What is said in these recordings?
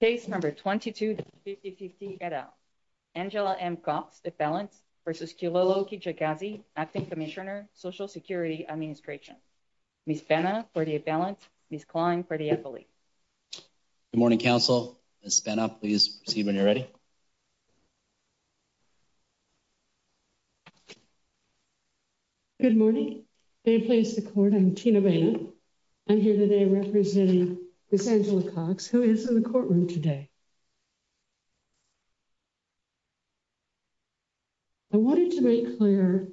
Case No. 22-5050 et al. Angela M. Cox, defendant, v. Kilolo Kijakazi, Acting Commissioner, Social Security Administration. Ms. Spena, for the defendant. Ms. Klein, for the affiliate. Good morning, Council. Ms. Spena, please proceed when you're ready. Good morning. May it please the Court, I'm Tina Baena. I'm here today representing Ms. Spena in the courtroom today. I wanted to make clear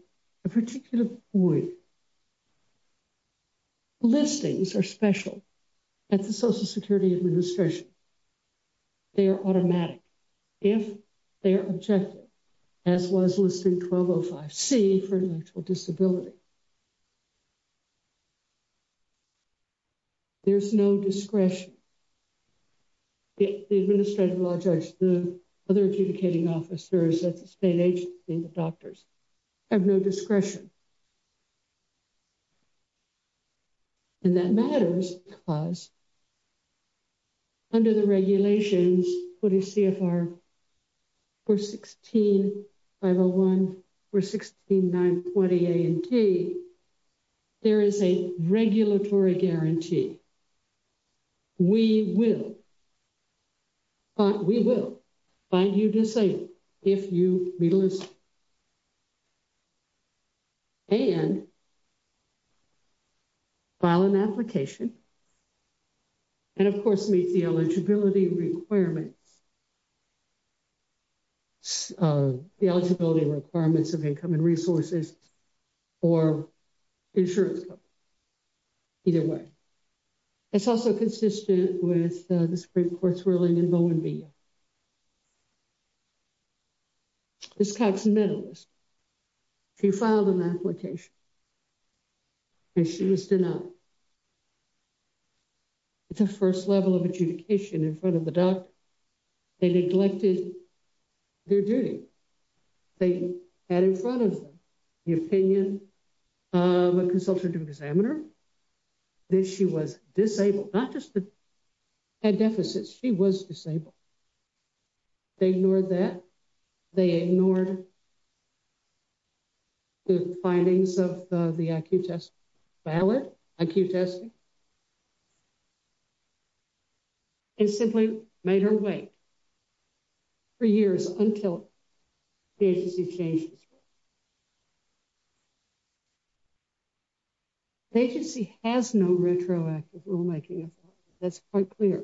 a particular point. Listings are special at the Social Security Administration. They are automatic if they are objective, as was Listing 1205C for intellectual disability. There's no discretion. The Administrative Law Judge, the other adjudicating officers at the state agency, the doctors, have no 16501 or 16920 A&T, there is a regulatory guarantee. We will, we will find you disabled if you be listed and file an application and of course meet the eligibility requirements, the eligibility requirements of income and resources or insurance. Either way, it's also consistent with the Supreme Court's ruling in Bowen v. Young. Ms. Cox, a medalist, she filed an application and she was denied. It's a first level of adjudication in front of the doctor. They neglected their duty. They had in front of them the opinion of a consultant and examiner that she was disabled. Not just that she had deficits, she was disabled. They ignored that. They ignored the findings of the IQ test ballot, IQ testing, and simply made her wait for years until the agency changed its rules. The agency has no retroactive rulemaking. That's quite clear.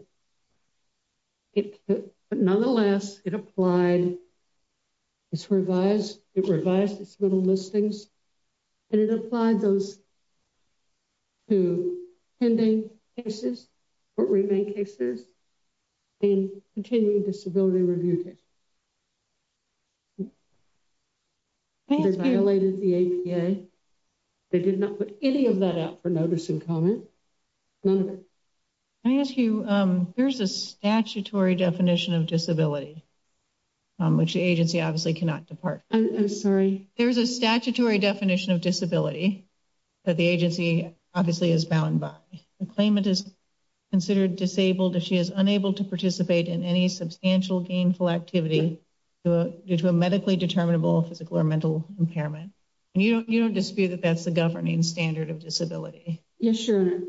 Nonetheless, it applied, it revised its little listings and it applied those to pending cases or remaining cases and continuing disability review cases. They violated the APA. They did not put any of that out for notice and comment. None of it. Let me ask you, there's a statutory definition of disability, which the agency obviously cannot depart from. There's a statutory definition of disability that the agency obviously is bound by. The claimant is considered disabled if she is unable to participate in any substantial gainful activity due to a medically determinable physical or mental impairment. You don't dispute that that's the governing standard of disability? Yes, Your Honor.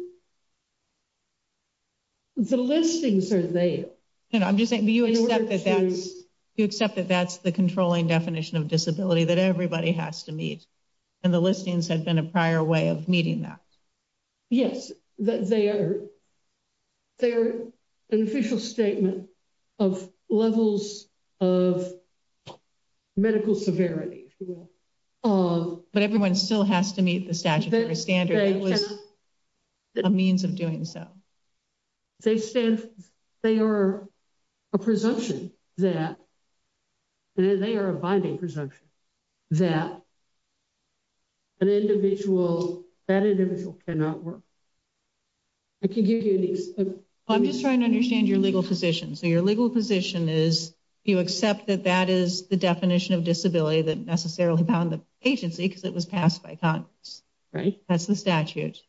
The listings are there. I'm just saying, do you accept that that's the controlling definition of disability that everybody has to meet and the listings have been a prior way of meeting that? Yes, they are an official statement of levels of medical severity. But everyone still has to meet the statutory standard. It was a means of doing so. They stand, they are a presumption that, they are a binding presumption that an individual, that individual cannot work. I can give you an example. I'm just trying to understand your legal position. So your legal position is you accept that that is the definition of disability that necessarily bound the agency because it was passed by Congress. That's the statute.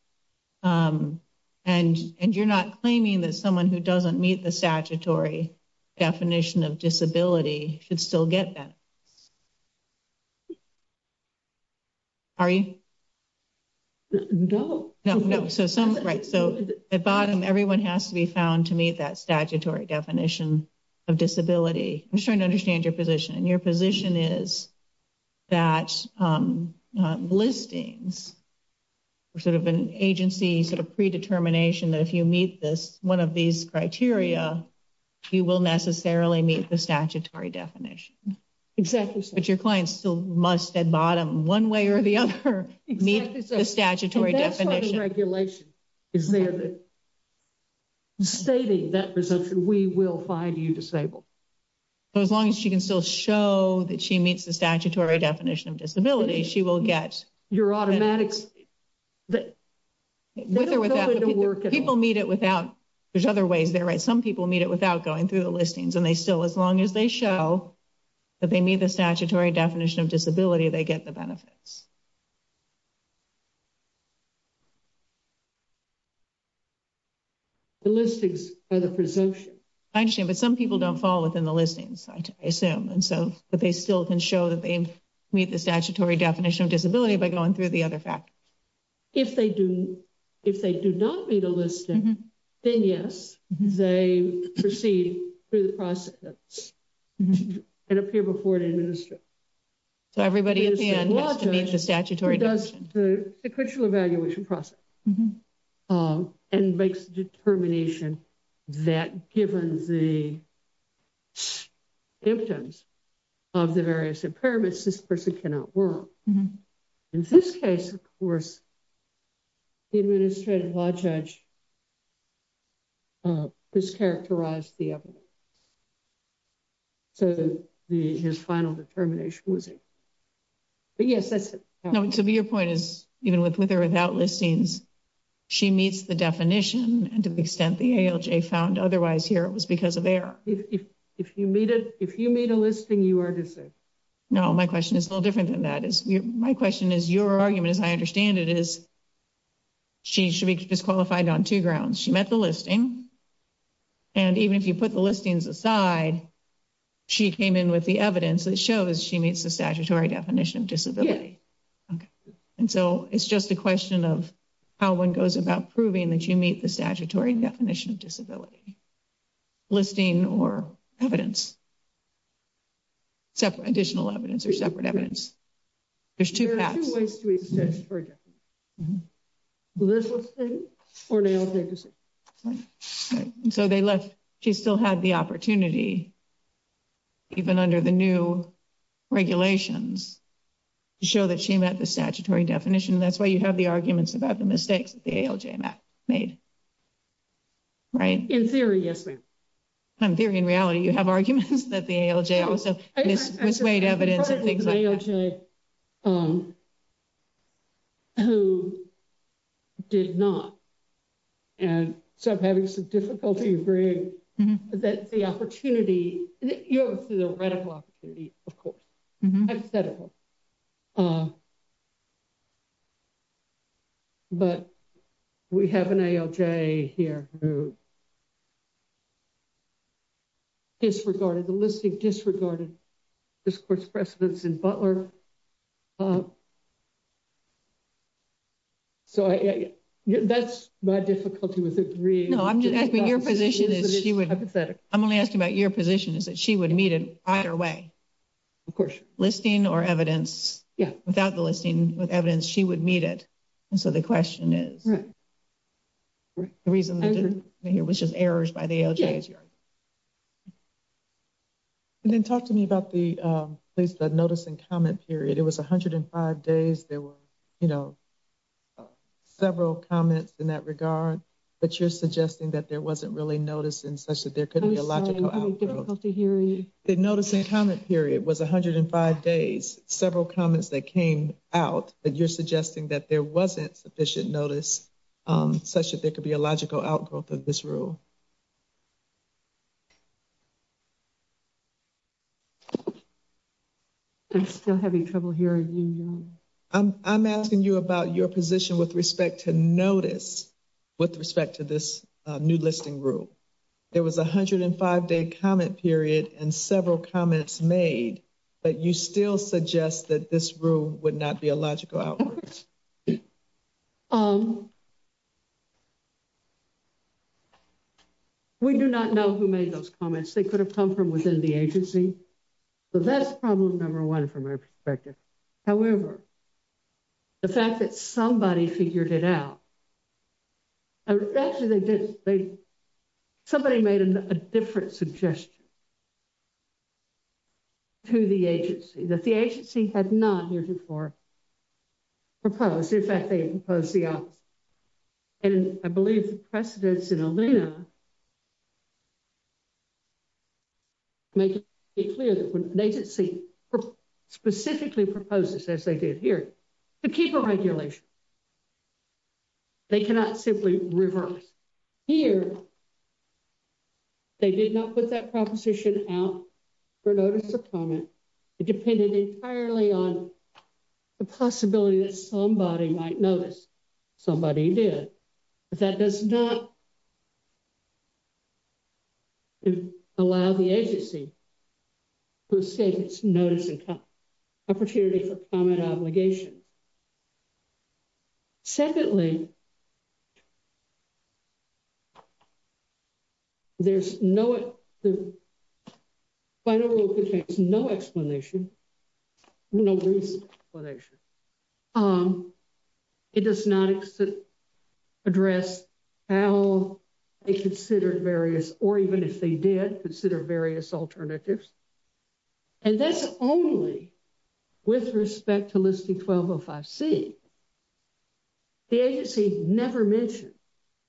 And you're not claiming that someone who doesn't meet the statutory definition of disability should still get benefits. Are you? No. Right. So at bottom, everyone has to be found to meet that statutory definition of disability. I'm just trying to understand your position. Your position is that listings are sort of an agency sort of predetermination that if you meet this, one of these criteria, you will necessarily meet the statutory definition. Exactly so. But your clients still must at bottom, one way or the other, meet the statutory definition. Is there that stating that presumption, we will find you disabled. As long as she can still show that she meets the statutory definition of disability, she will get. Your automatics. People meet it without, there's other ways they're right. Some people meet it without going through the listings and they still, as long as they show that they meet the statutory definition of disability, they get the benefits. The listings are the presumption. I understand, but some people don't fall within the listings, I assume. And so, but they still can show that they meet the statutory definition of disability by going through the other factors. If they do, if they do not meet a listing, then yes, they proceed through the process. And appear before an administrator. So everybody in the end has to meet the statutory definition. The sequential evaluation process. And makes the determination that given the symptoms of the various impairments, this person cannot work. In this case, of course, the administrative law judge has characterized the evidence. So his final determination was it. But yes, that's it. So your point is, even with her without listings, she meets the definition and to the extent the ALJ found otherwise here, it was because of error. If you meet a listing, you are disabled. No, my question is a little different than that. My question is your argument, as I understand it, is she should be disqualified on two grounds. She met the listing. And even if you put the listings aside, she came in with the evidence that shows she meets the statutory definition of disability. And so it's just a question of how one goes about proving that you meet the statutory definition of disability. Listing or evidence. Additional evidence or separate evidence. There's two paths. Listing or an ALJ decision. So they left. She still had the opportunity, even under the new regulations, to show that she met the statutory definition. That's why you have the arguments about the mistakes that the ALJ made. Right? In theory, yes, ma'am. In theory, in reality, you have arguments that the ALJ also misweighed evidence and things like that. Who did not. And so I'm having some difficulty agreeing that the opportunity, the radical opportunity, of course, hypothetical. But we have an ALJ here who disregarded the listing, disregarded this course precedence in Butler. So that's my difficulty with agreeing. No, I'm just asking your position is she would. I'm only asking about your position is that she would meet it either way. Of course. Listing or evidence. Yeah. Without the listing, with evidence, she would meet it. And so the question is. Right. The reason here was just errors by the ALJ. And then talk to me about the notice and comment period. It was 105 days. There were, you know, several comments in that regard. But you're suggesting that there wasn't really notice in such that there could be a logical. I'm sorry, I'm having difficulty hearing you. The notice and comment period was 105 days. Several comments that came out. But you're suggesting that there wasn't sufficient notice such that there could be a logical outgrowth of this rule. I'm still having trouble hearing you. I'm asking you about your position with respect to notice. With respect to this new listing rule. There was 105 day comment period and several comments made. But you still suggest that this rule would not be a logical outwards. We do not know who made those comments. They could have come from within the agency. But that's problem number one from our perspective. However, the fact that somebody figured it out. Actually, they did. Somebody made a different suggestion. To the agency that the agency had not. Proposed, in fact, they opposed the office. And I believe the precedence in. Make it clear that when they did see. Specifically proposes as they did here. To keep a regulation, they cannot simply reverse. Here, they did not put that proposition out. So, I think that this new rule. For notice of comment, it depended entirely on. The possibility that somebody might notice. Somebody did, but that does not. Allow the agency. Notice. Opportunity for comment obligation. Secondly. There's no. No explanation. No explanation. It does not. Address how. They considered various, or even if they did consider various alternatives. And that's only. With respect to listing 1205 C. The agency never mentioned.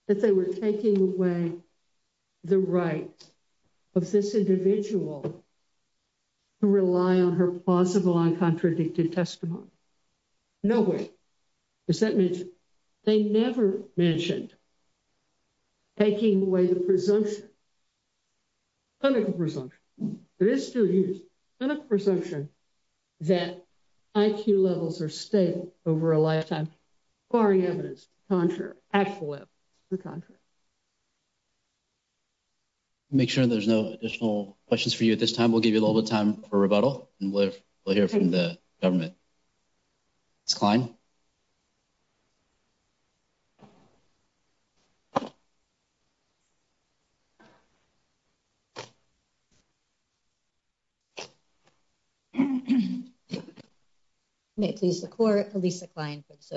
That they were taking away the right. Of this individual. To rely on her possible and contradicted testimony. No way. They never mentioned. Taking away the presumption. Under the presumption. Under the presumption. That IQ levels are stable. Over a lifetime. Contra. Make sure there's no additional questions for you at this time. We'll give you a little bit of time for rebuttal. We'll hear from the government. Okay. It's. It's. It's.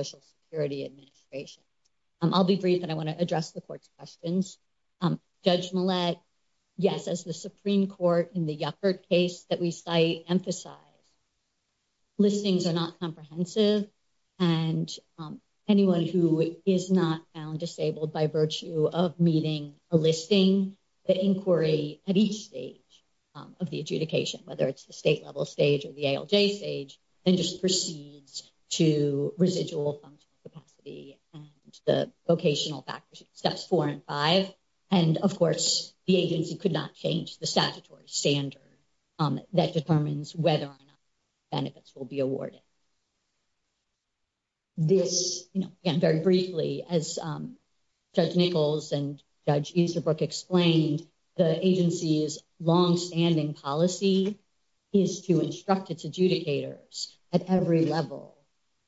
It's. I'll be brief and I want to address the court's questions. Okay. Judge. Yes, as the Supreme court in the effort case that we. I emphasize. Listings are not comprehensive. And anyone who is not. Disabled by virtue of meeting a listing. The inquiry at each stage. Of the adjudication, whether it's the state level stage of the stage. And just proceeds to residual capacity. The vocational factors steps four and five. And, of course, the agency could not change the statutory standard. That determines whether or not. Benefits will be awarded. This very briefly as. Judge Nichols and judge is the book explained. The agency is long standing policy. Is to instruct its adjudicators at every level.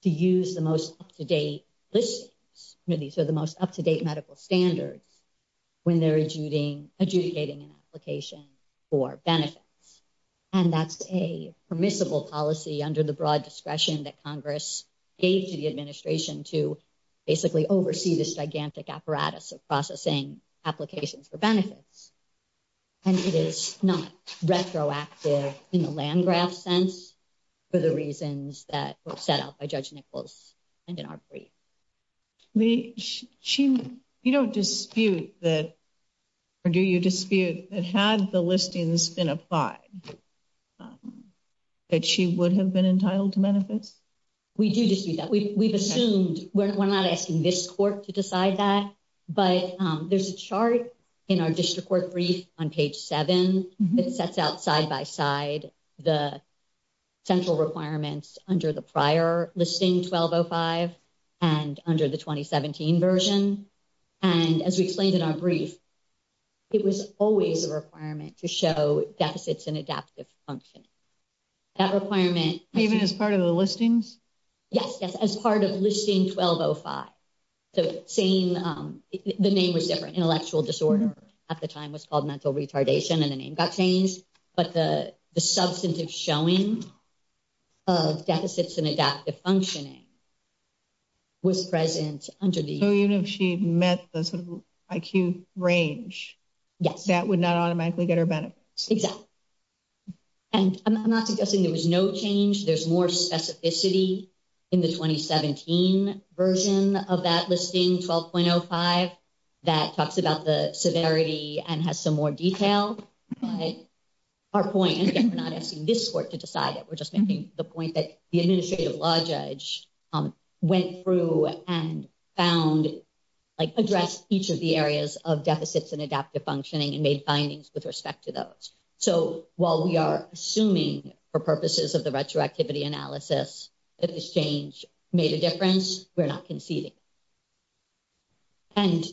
To use the most up-to-date. These are the most up-to-date medical standards. When they're adjudicating adjudicating an application. Or benefits. And that's a permissible policy under the broad discretion that Congress. Gave to the administration to. Basically oversee this gigantic apparatus of processing. Applications for benefits. And it is not retroactive in the land graph sense. For the reasons that were set up by judge Nichols. And in our brief. You don't dispute that. Or do you dispute that had the listings been applied. That she would have been entitled to benefits. We do this. We've assumed we're not asking this court to decide that. But there's a chart. In our district court brief on page 7, it sets out side by side. The. Central requirements under the prior listing 1205. And under the 2017 version. And as we explained in our brief. It was always a requirement to show deficits and adaptive function. That requirement, even as part of the listings. Yes, yes, as part of listing 1205. The same, the name was different intellectual disorder. At the time was called mental retardation and the name got changed. But the substantive showing. Of deficits and adaptive functioning. Was present under the unit. She met the sort of IQ range. Yes, that would not automatically get her benefits. And I'm not suggesting there was no change. There's more specificity. In the 2017 version of that listing. 12.05. That talks about the severity and has some more detail. Our point. We're not asking this court to decide it. We're just making the point that the administrative law judge. Went through and found. Like address each of the areas of deficits and adaptive functioning. And made findings with respect to those. So, while we are assuming for purposes of the retroactivity analysis. That this change made a difference. We're not conceding. And.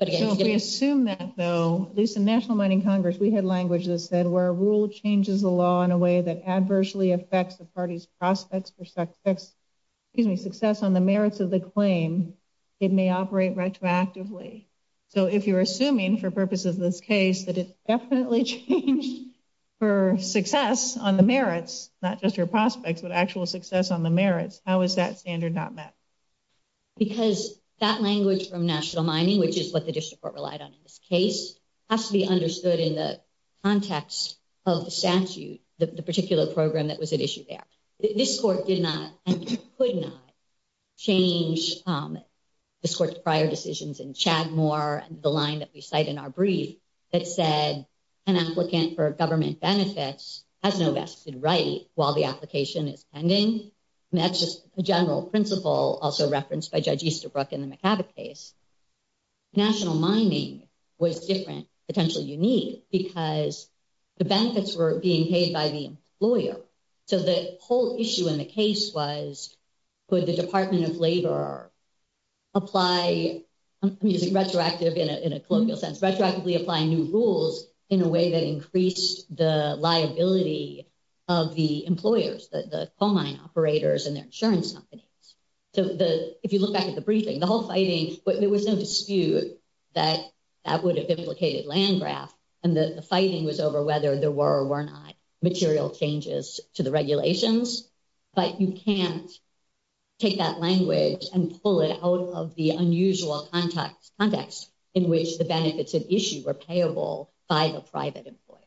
Assume that though, there's a national mining Congress. We had language that said, where a rule changes the law in a way that. Adversely affects the party's prospects. Excuse me, success on the merits of the claim. It may operate retroactively. So, if you're assuming for purposes of this case, that it definitely. For success on the merits, not just your prospects, but actual success on the merits. How is that standard not met? Because that language from national mining, which is what the district. Relied on in this case. Has to be understood in the context of the statute. The particular program that was an issue there. This court did not and could not change. This court's prior decisions in Chad more the line that we cite in our brief. That said, an applicant for government benefits. Has no vested right while the application is pending. And that's just the general principle also referenced by judge Easterbrook. In the case. National mining was different, potentially unique because. The benefits were being paid by the lawyer. So, the whole issue in the case was. The question was, could the department of labor. Apply. Retroactive in a sense retroactively applying new rules. In a way that increased the liability. Of the employers that the coal mine operators and their insurance. So, the, if you look back at the briefing, the whole fighting, but there was no dispute. That would have implicated land graph. And the fighting was over whether there were or were not material changes to the regulations. But you can't. Take that language and pull it out of the unusual context. Context. In which the benefits of issue were payable by the private employer.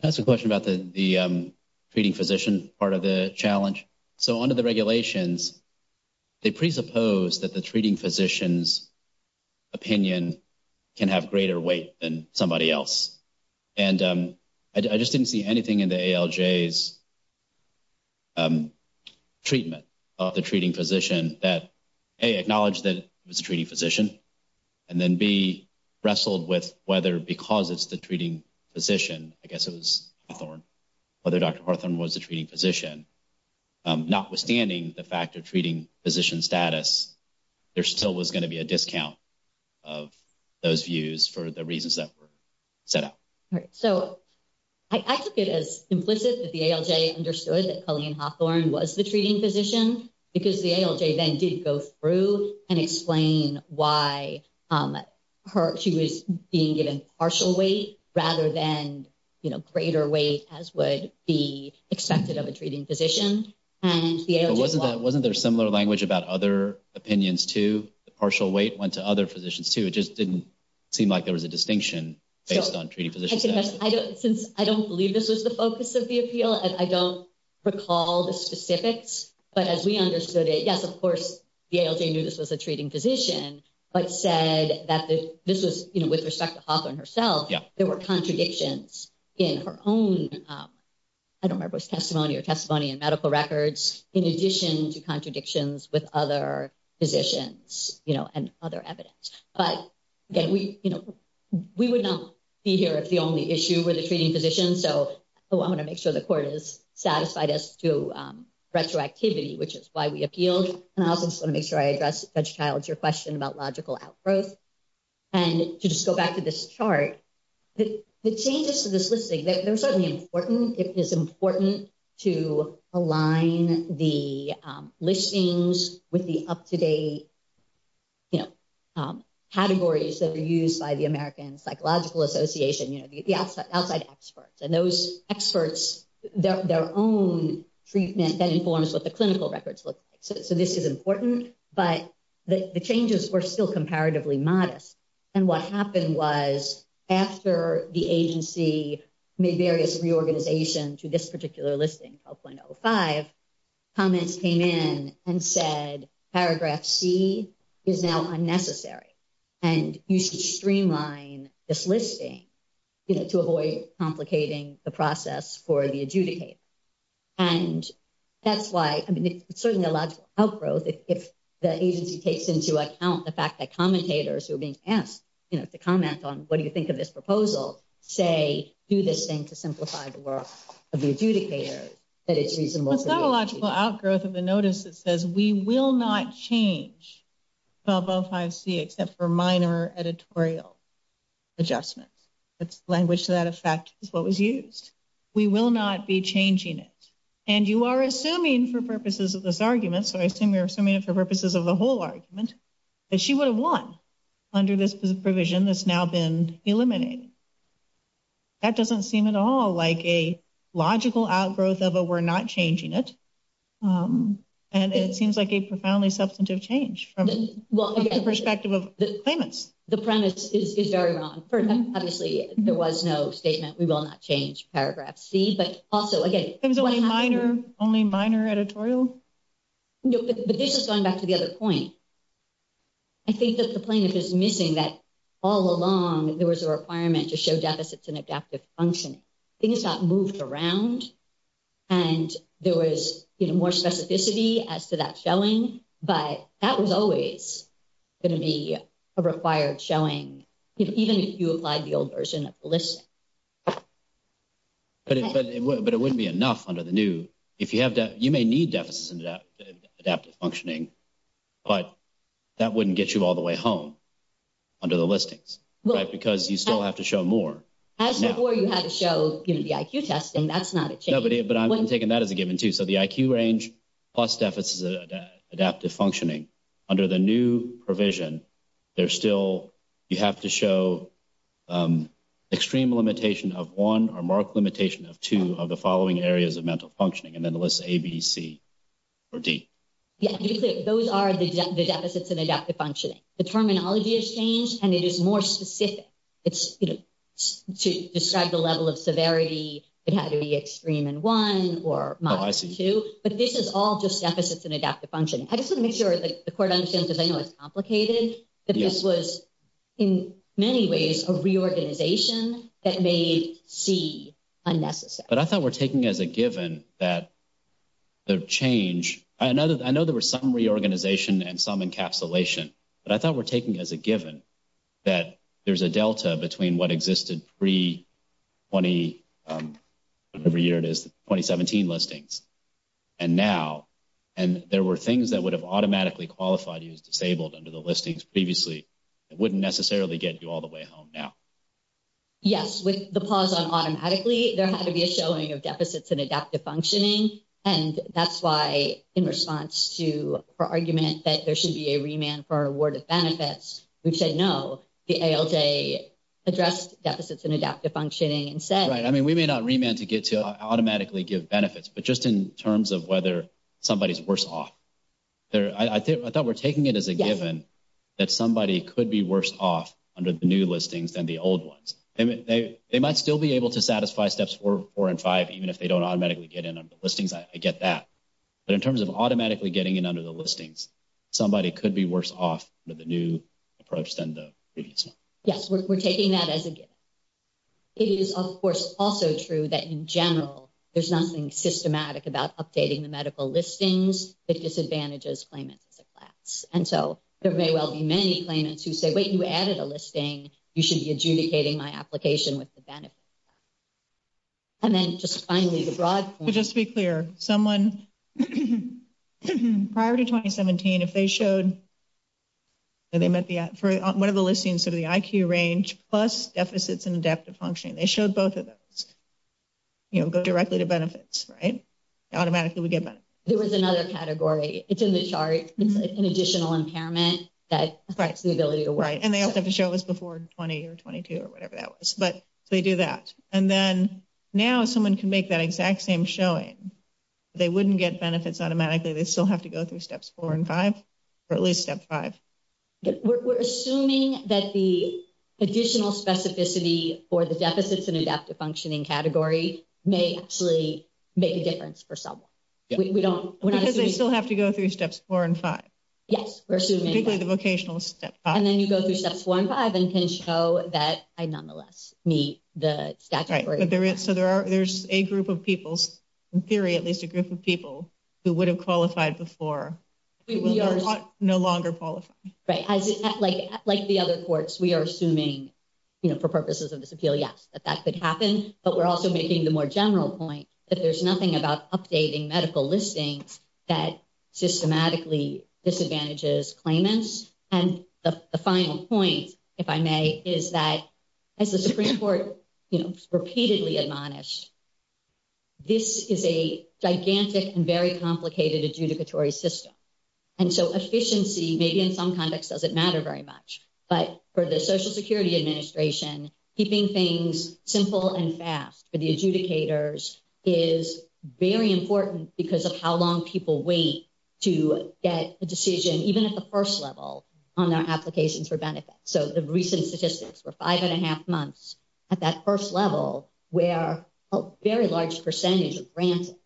That's a question about the. Treating physician part of the challenge. So, under the regulations. They presuppose that the treating physicians. Opinion. Can have greater weight than somebody else. And I just didn't see anything in the. Treatment. Of the treating physician that. Hey, acknowledge that it was a treating physician. And then be wrestled with whether, because it's the treating. Position, I guess it was. Whether Dr was a treating physician. Notwithstanding the fact of treating physician status. There still was going to be a discount of those views for the reasons that were set up. All right, so I took it as implicit that the understood that was the treating physician because the then did go through and explain why. She was being given partial weight rather than. You know, greater weight as would be expected of a treating physician. And wasn't that wasn't there similar language about other opinions to the partial weight went to other positions too. It just didn't seem like there was a distinction. Based on treating physicians. I don't believe this was the focus of the appeal and I don't. Recall the specifics, but as we understood it, yes, of course. Yeah, this was a treating physician, but said that this was with respect to herself. Yeah, there were contradictions in her own. I don't remember his testimony or testimony and medical records in addition to contradictions with other positions and other evidence. But we would not be here if the only issue with the treating physician. So I want to make sure the court is satisfied as to retroactivity, which is why we appealed. And I just want to make sure I address that child's your question about logical outgrowth. And to just go back to this chart, the changes to this listing, they're certainly important. It is important to align the listings with the up to date. Categories that are used by the American Psychological Association, the outside experts and those experts, their own treatment that informs what the clinical records look like. So this is important, but the changes were still comparatively modest. And what happened was after the agency made various reorganization to this particular listing, 0.05 comments came in and said, paragraph C is now unnecessary. And you should streamline this listing to avoid complicating the process for the adjudicator. And that's why I mean, it's certainly a logical outgrowth. If the agency takes into account the fact that commentators who are being asked to comment on what do you think of this proposal, say, do this thing to simplify the work of the adjudicator, that it's reasonable. It's not a logical outgrowth of the notice that says we will not change 0.05C except for minor editorial adjustments. It's language to that effect is what was used. We will not be changing it. And you are assuming for purposes of this argument, so I assume you're assuming it for purposes of the whole argument, that she would have won under this provision that's now been eliminated. That doesn't seem at all like a logical outgrowth of a we're not changing it. And it seems like a profoundly substantive change from the perspective of the claimants. The premise is very wrong. Obviously, there was no statement. We will not change paragraph C. But also, again, it was only minor, only minor editorial. No, but this is going back to the other point. I think that the plaintiff is missing that all along there was a requirement to show deficits and adaptive function. Things got moved around. And there was more specificity as to that showing. But that was always going to be a required showing, even if you applied the old version of the listing. But it wouldn't be enough under the new. You may need deficits and adaptive functioning, but that wouldn't get you all the way home under the listings, right, because you still have to show more. As before, you had to show the IQ testing. That's not a change. But I'm taking that as a given, too. So the IQ range plus deficits adaptive functioning under the new provision, there's still you have to show extreme limitation of one or mark limitation of two of the following areas of mental functioning and then the list ABC or D. Those are the deficits and adaptive functioning. The terminology has changed, and it is more specific. It's to describe the level of severity. It had to be extreme in one or two. But this is all just deficits and adaptive function. I just want to make sure that the court understands, because I know it's complicated. This was in many ways a reorganization that made C unnecessary. But I thought we're taking as a given that the change. I know there was some reorganization and some encapsulation. But I thought we're taking as a given that there's a delta between what existed pre-2017 listings and now. And there were things that would have automatically qualified you as disabled under the listings previously. It wouldn't necessarily get you all the way home now. Yes. With the pause on automatically, there had to be a showing of deficits and adaptive functioning. And that's why, in response to her argument that there should be a remand for awarded benefits, we said no. The ALJ addressed deficits and adaptive functioning and said. Right. I mean, we may not remand to get to automatically give benefits, but just in terms of whether somebody's worse off. I thought we're taking it as a given that somebody could be worse off under the new listings than the old ones. They might still be able to satisfy steps four and five, even if they don't automatically get in on the listings. I get that. But in terms of automatically getting in under the listings, somebody could be worse off with the new approach than the previous one. Yes, we're taking that as a given. It is, of course, also true that, in general, there's nothing systematic about updating the medical listings that disadvantages claimants as a class. And so there may well be many claimants who say, wait, you added a listing. You should be adjudicating my application with the benefit. And then just finally, the broad. Just to be clear, someone prior to 2017, if they showed. And they met the for one of the listings of the IQ range plus deficits and adaptive functioning, they showed both of those. You know, go directly to benefits, right? Automatically, we get better. There was another category. It's in the chart. It's an additional impairment that affects the ability to write. And they also have to show us before 20 or 22 or whatever that was. But they do that. And then now someone can make that exact same showing. They wouldn't get benefits automatically. They still have to go through steps four and five or at least step five. We're assuming that the additional specificity for the deficits and adaptive functioning category may actually make a difference for someone. We don't still have to go through steps four and five. Yes, we're assuming the vocational step. And then you go through steps one five and can show that I nonetheless meet the. So there are there's a group of people's theory, at least a group of people who would have qualified before. No longer qualify. Right. Like, like the other courts, we are assuming for purposes of this appeal. Yes, that that could happen. But we're also making the more general point that there's nothing about updating medical listings that systematically disadvantages claimants. And the final point, if I may, is that as the Supreme Court repeatedly admonished. This is a gigantic and very complicated adjudicatory system. And so efficiency, maybe in some context, doesn't matter very much. But for the Social Security Administration, keeping things simple and fast for the adjudicators is very important because of how long people wait to get a decision, even at the first level on their applications for benefits. So the recent statistics were five and a half months at that first level where a very large percentage of grants. And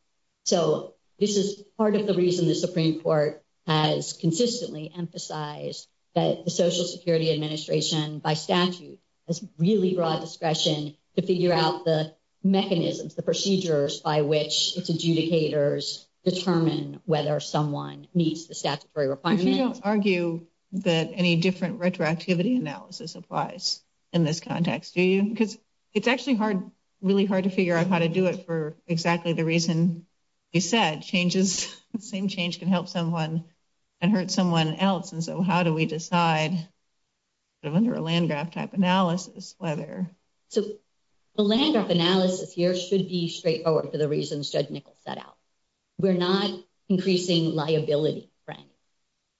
so this is part of the reason the Supreme Court has consistently emphasized that the Social Security Administration by statute has really broad discretion to figure out the mechanisms, the procedures by which its adjudicators determine whether someone meets the statutory requirements. So you don't argue that any different retroactivity analysis applies in this context, do you? Because it's actually hard, really hard to figure out how to do it for exactly the reason you said. Changes, same change can help someone and hurt someone else. And so how do we decide under a Landgraf type analysis whether. So the Landgraf analysis here should be straightforward. We're not increasing liability.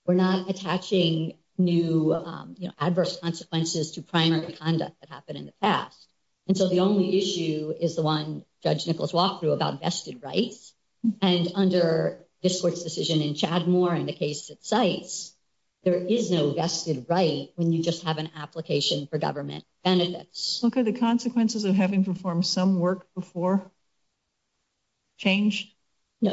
We're not attaching new adverse consequences to primary conduct that happened in the past. And so the only issue is the one Judge Nichols walked through about vested rights. And under this court's decision in Chadmore and the case it cites, there is no vested right when you just have an application for government benefits. What are the consequences of having performed some work before change?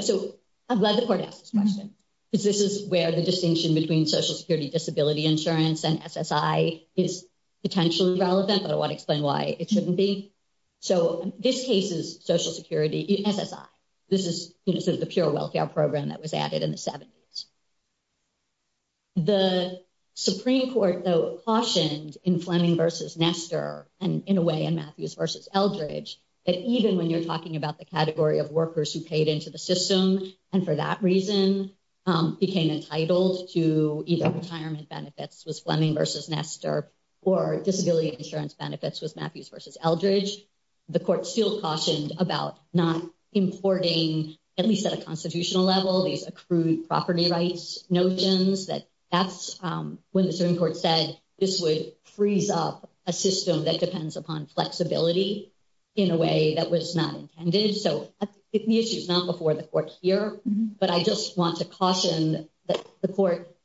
So I'm glad the court asked this question. This is where the distinction between Social Security Disability Insurance and SSI is potentially relevant. But I want to explain why it shouldn't be. So this case is Social Security SSI. This is the pure welfare program that was added in the 70s. The Supreme Court, though, cautioned in Fleming versus Nestor and in a way in Matthews versus Eldridge, that even when you're talking about the category of workers who paid into the system and for that reason, became entitled to either retirement benefits was Fleming versus Nestor or disability insurance benefits was Matthews versus Eldridge. The court still cautioned about not importing, at least at a constitutional level, these accrued property rights notions. That's when the Supreme Court said this would freeze up a system that depends upon flexibility in a way that was not intended. So the issue is not before the court here. But I just want to caution that the court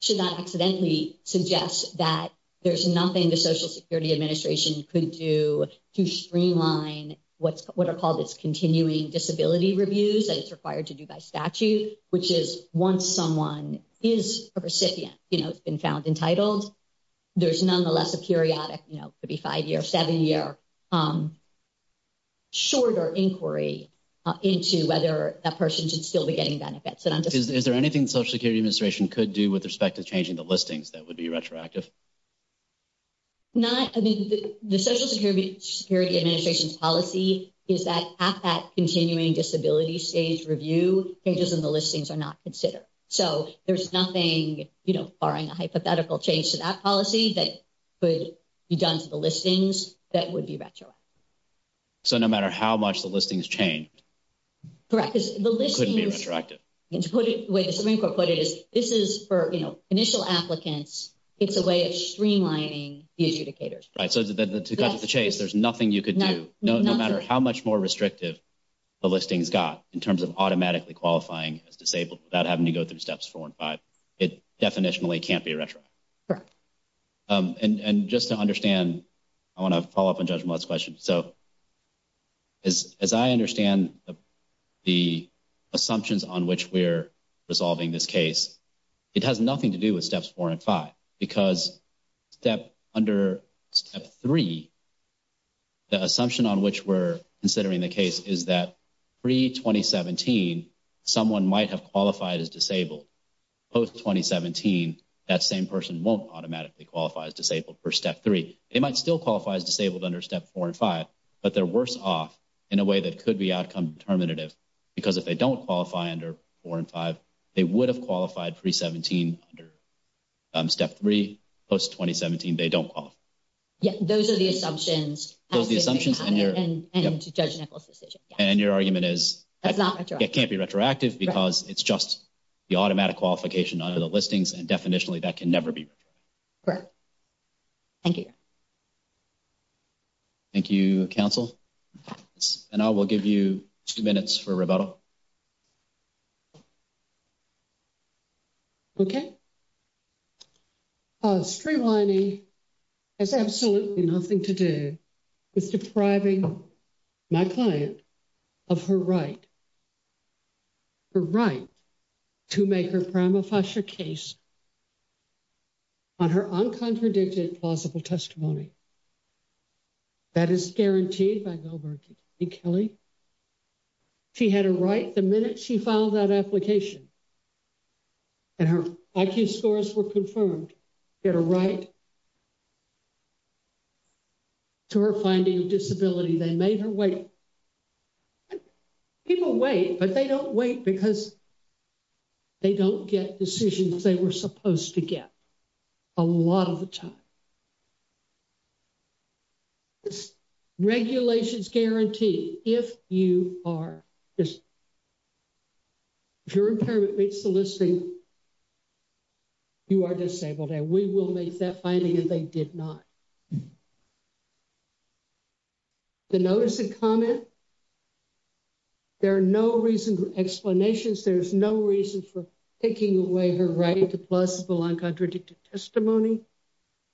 should not accidentally suggest that there's nothing the Social Security Administration could do to streamline what are called its continuing disability reviews that it's required to do by statute, which is once someone is a recipient, you know, it's been found entitled, there's nonetheless a periodic, you know, into whether that person should still be getting benefits. Is there anything the Social Security Administration could do with respect to changing the listings that would be retroactive? Not, I mean, the Social Security Administration's policy is that at that continuing disability stage review, changes in the listings are not considered. So there's nothing, you know, barring a hypothetical change to that policy that could be done to the listings that would be retroactive. So no matter how much the listings change. Correct. Because the listings couldn't be retroactive. The way the Supreme Court put it is this is for, you know, initial applicants. It's a way of streamlining the adjudicators. Right, so to cut to the chase, there's nothing you could do, no matter how much more restrictive the listings got in terms of automatically qualifying as disabled without having to go through steps four and five. It definitionally can't be retroactive. Correct. And just to understand, I want to follow up on Judge Millett's question. So as I understand the assumptions on which we're resolving this case, it has nothing to do with steps four and five. Because under step three, the assumption on which we're considering the case is that pre-2017, someone might have qualified as disabled. Post-2017, that same person won't automatically qualify as disabled for step three. They might still qualify as disabled under step four and five, but they're worse off in a way that could be outcome determinative. Because if they don't qualify under four and five, they would have qualified pre-2017 under step three. Post-2017, they don't qualify. Yeah, those are the assumptions. And Judge Nichols' decision. And your argument is it can't be retroactive because it's just the automatic qualification under the listings and definitionally that can never be retroactive. Correct. Thank you. Thank you, counsel. And I will give you two minutes for rebuttal. Okay. Streamlining has absolutely nothing to do with depriving my client of her right. Her right to make her prima facie case on her uncontradicted plausible testimony. That is guaranteed by Gilbert and Kelly. She had a right the minute she filed that application. And her IQ scores were confirmed. She had a right to her finding of disability. They made her wait. People wait, but they don't wait because they don't get decisions they were supposed to get a lot of the time. Regulations guarantee if you are, if your impairment meets the listing, you are disabled. And we will make that finding if they did not. The notice of comment. There are no reason for explanations. There's no reason for taking away her right to plausible uncontradicted testimony.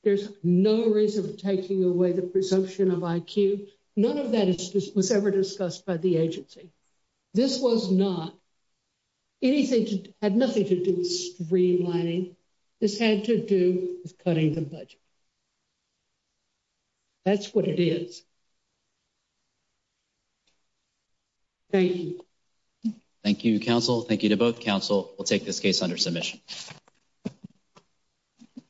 There's no reason for taking away the presumption of IQ. None of that was ever discussed by the agency. This was not. Anything had nothing to do with streamlining. This had to do with cutting the budget. That's what it is. Thank you. Thank you, counsel. Thank you to both counsel. We'll take this case under submission. Thank you.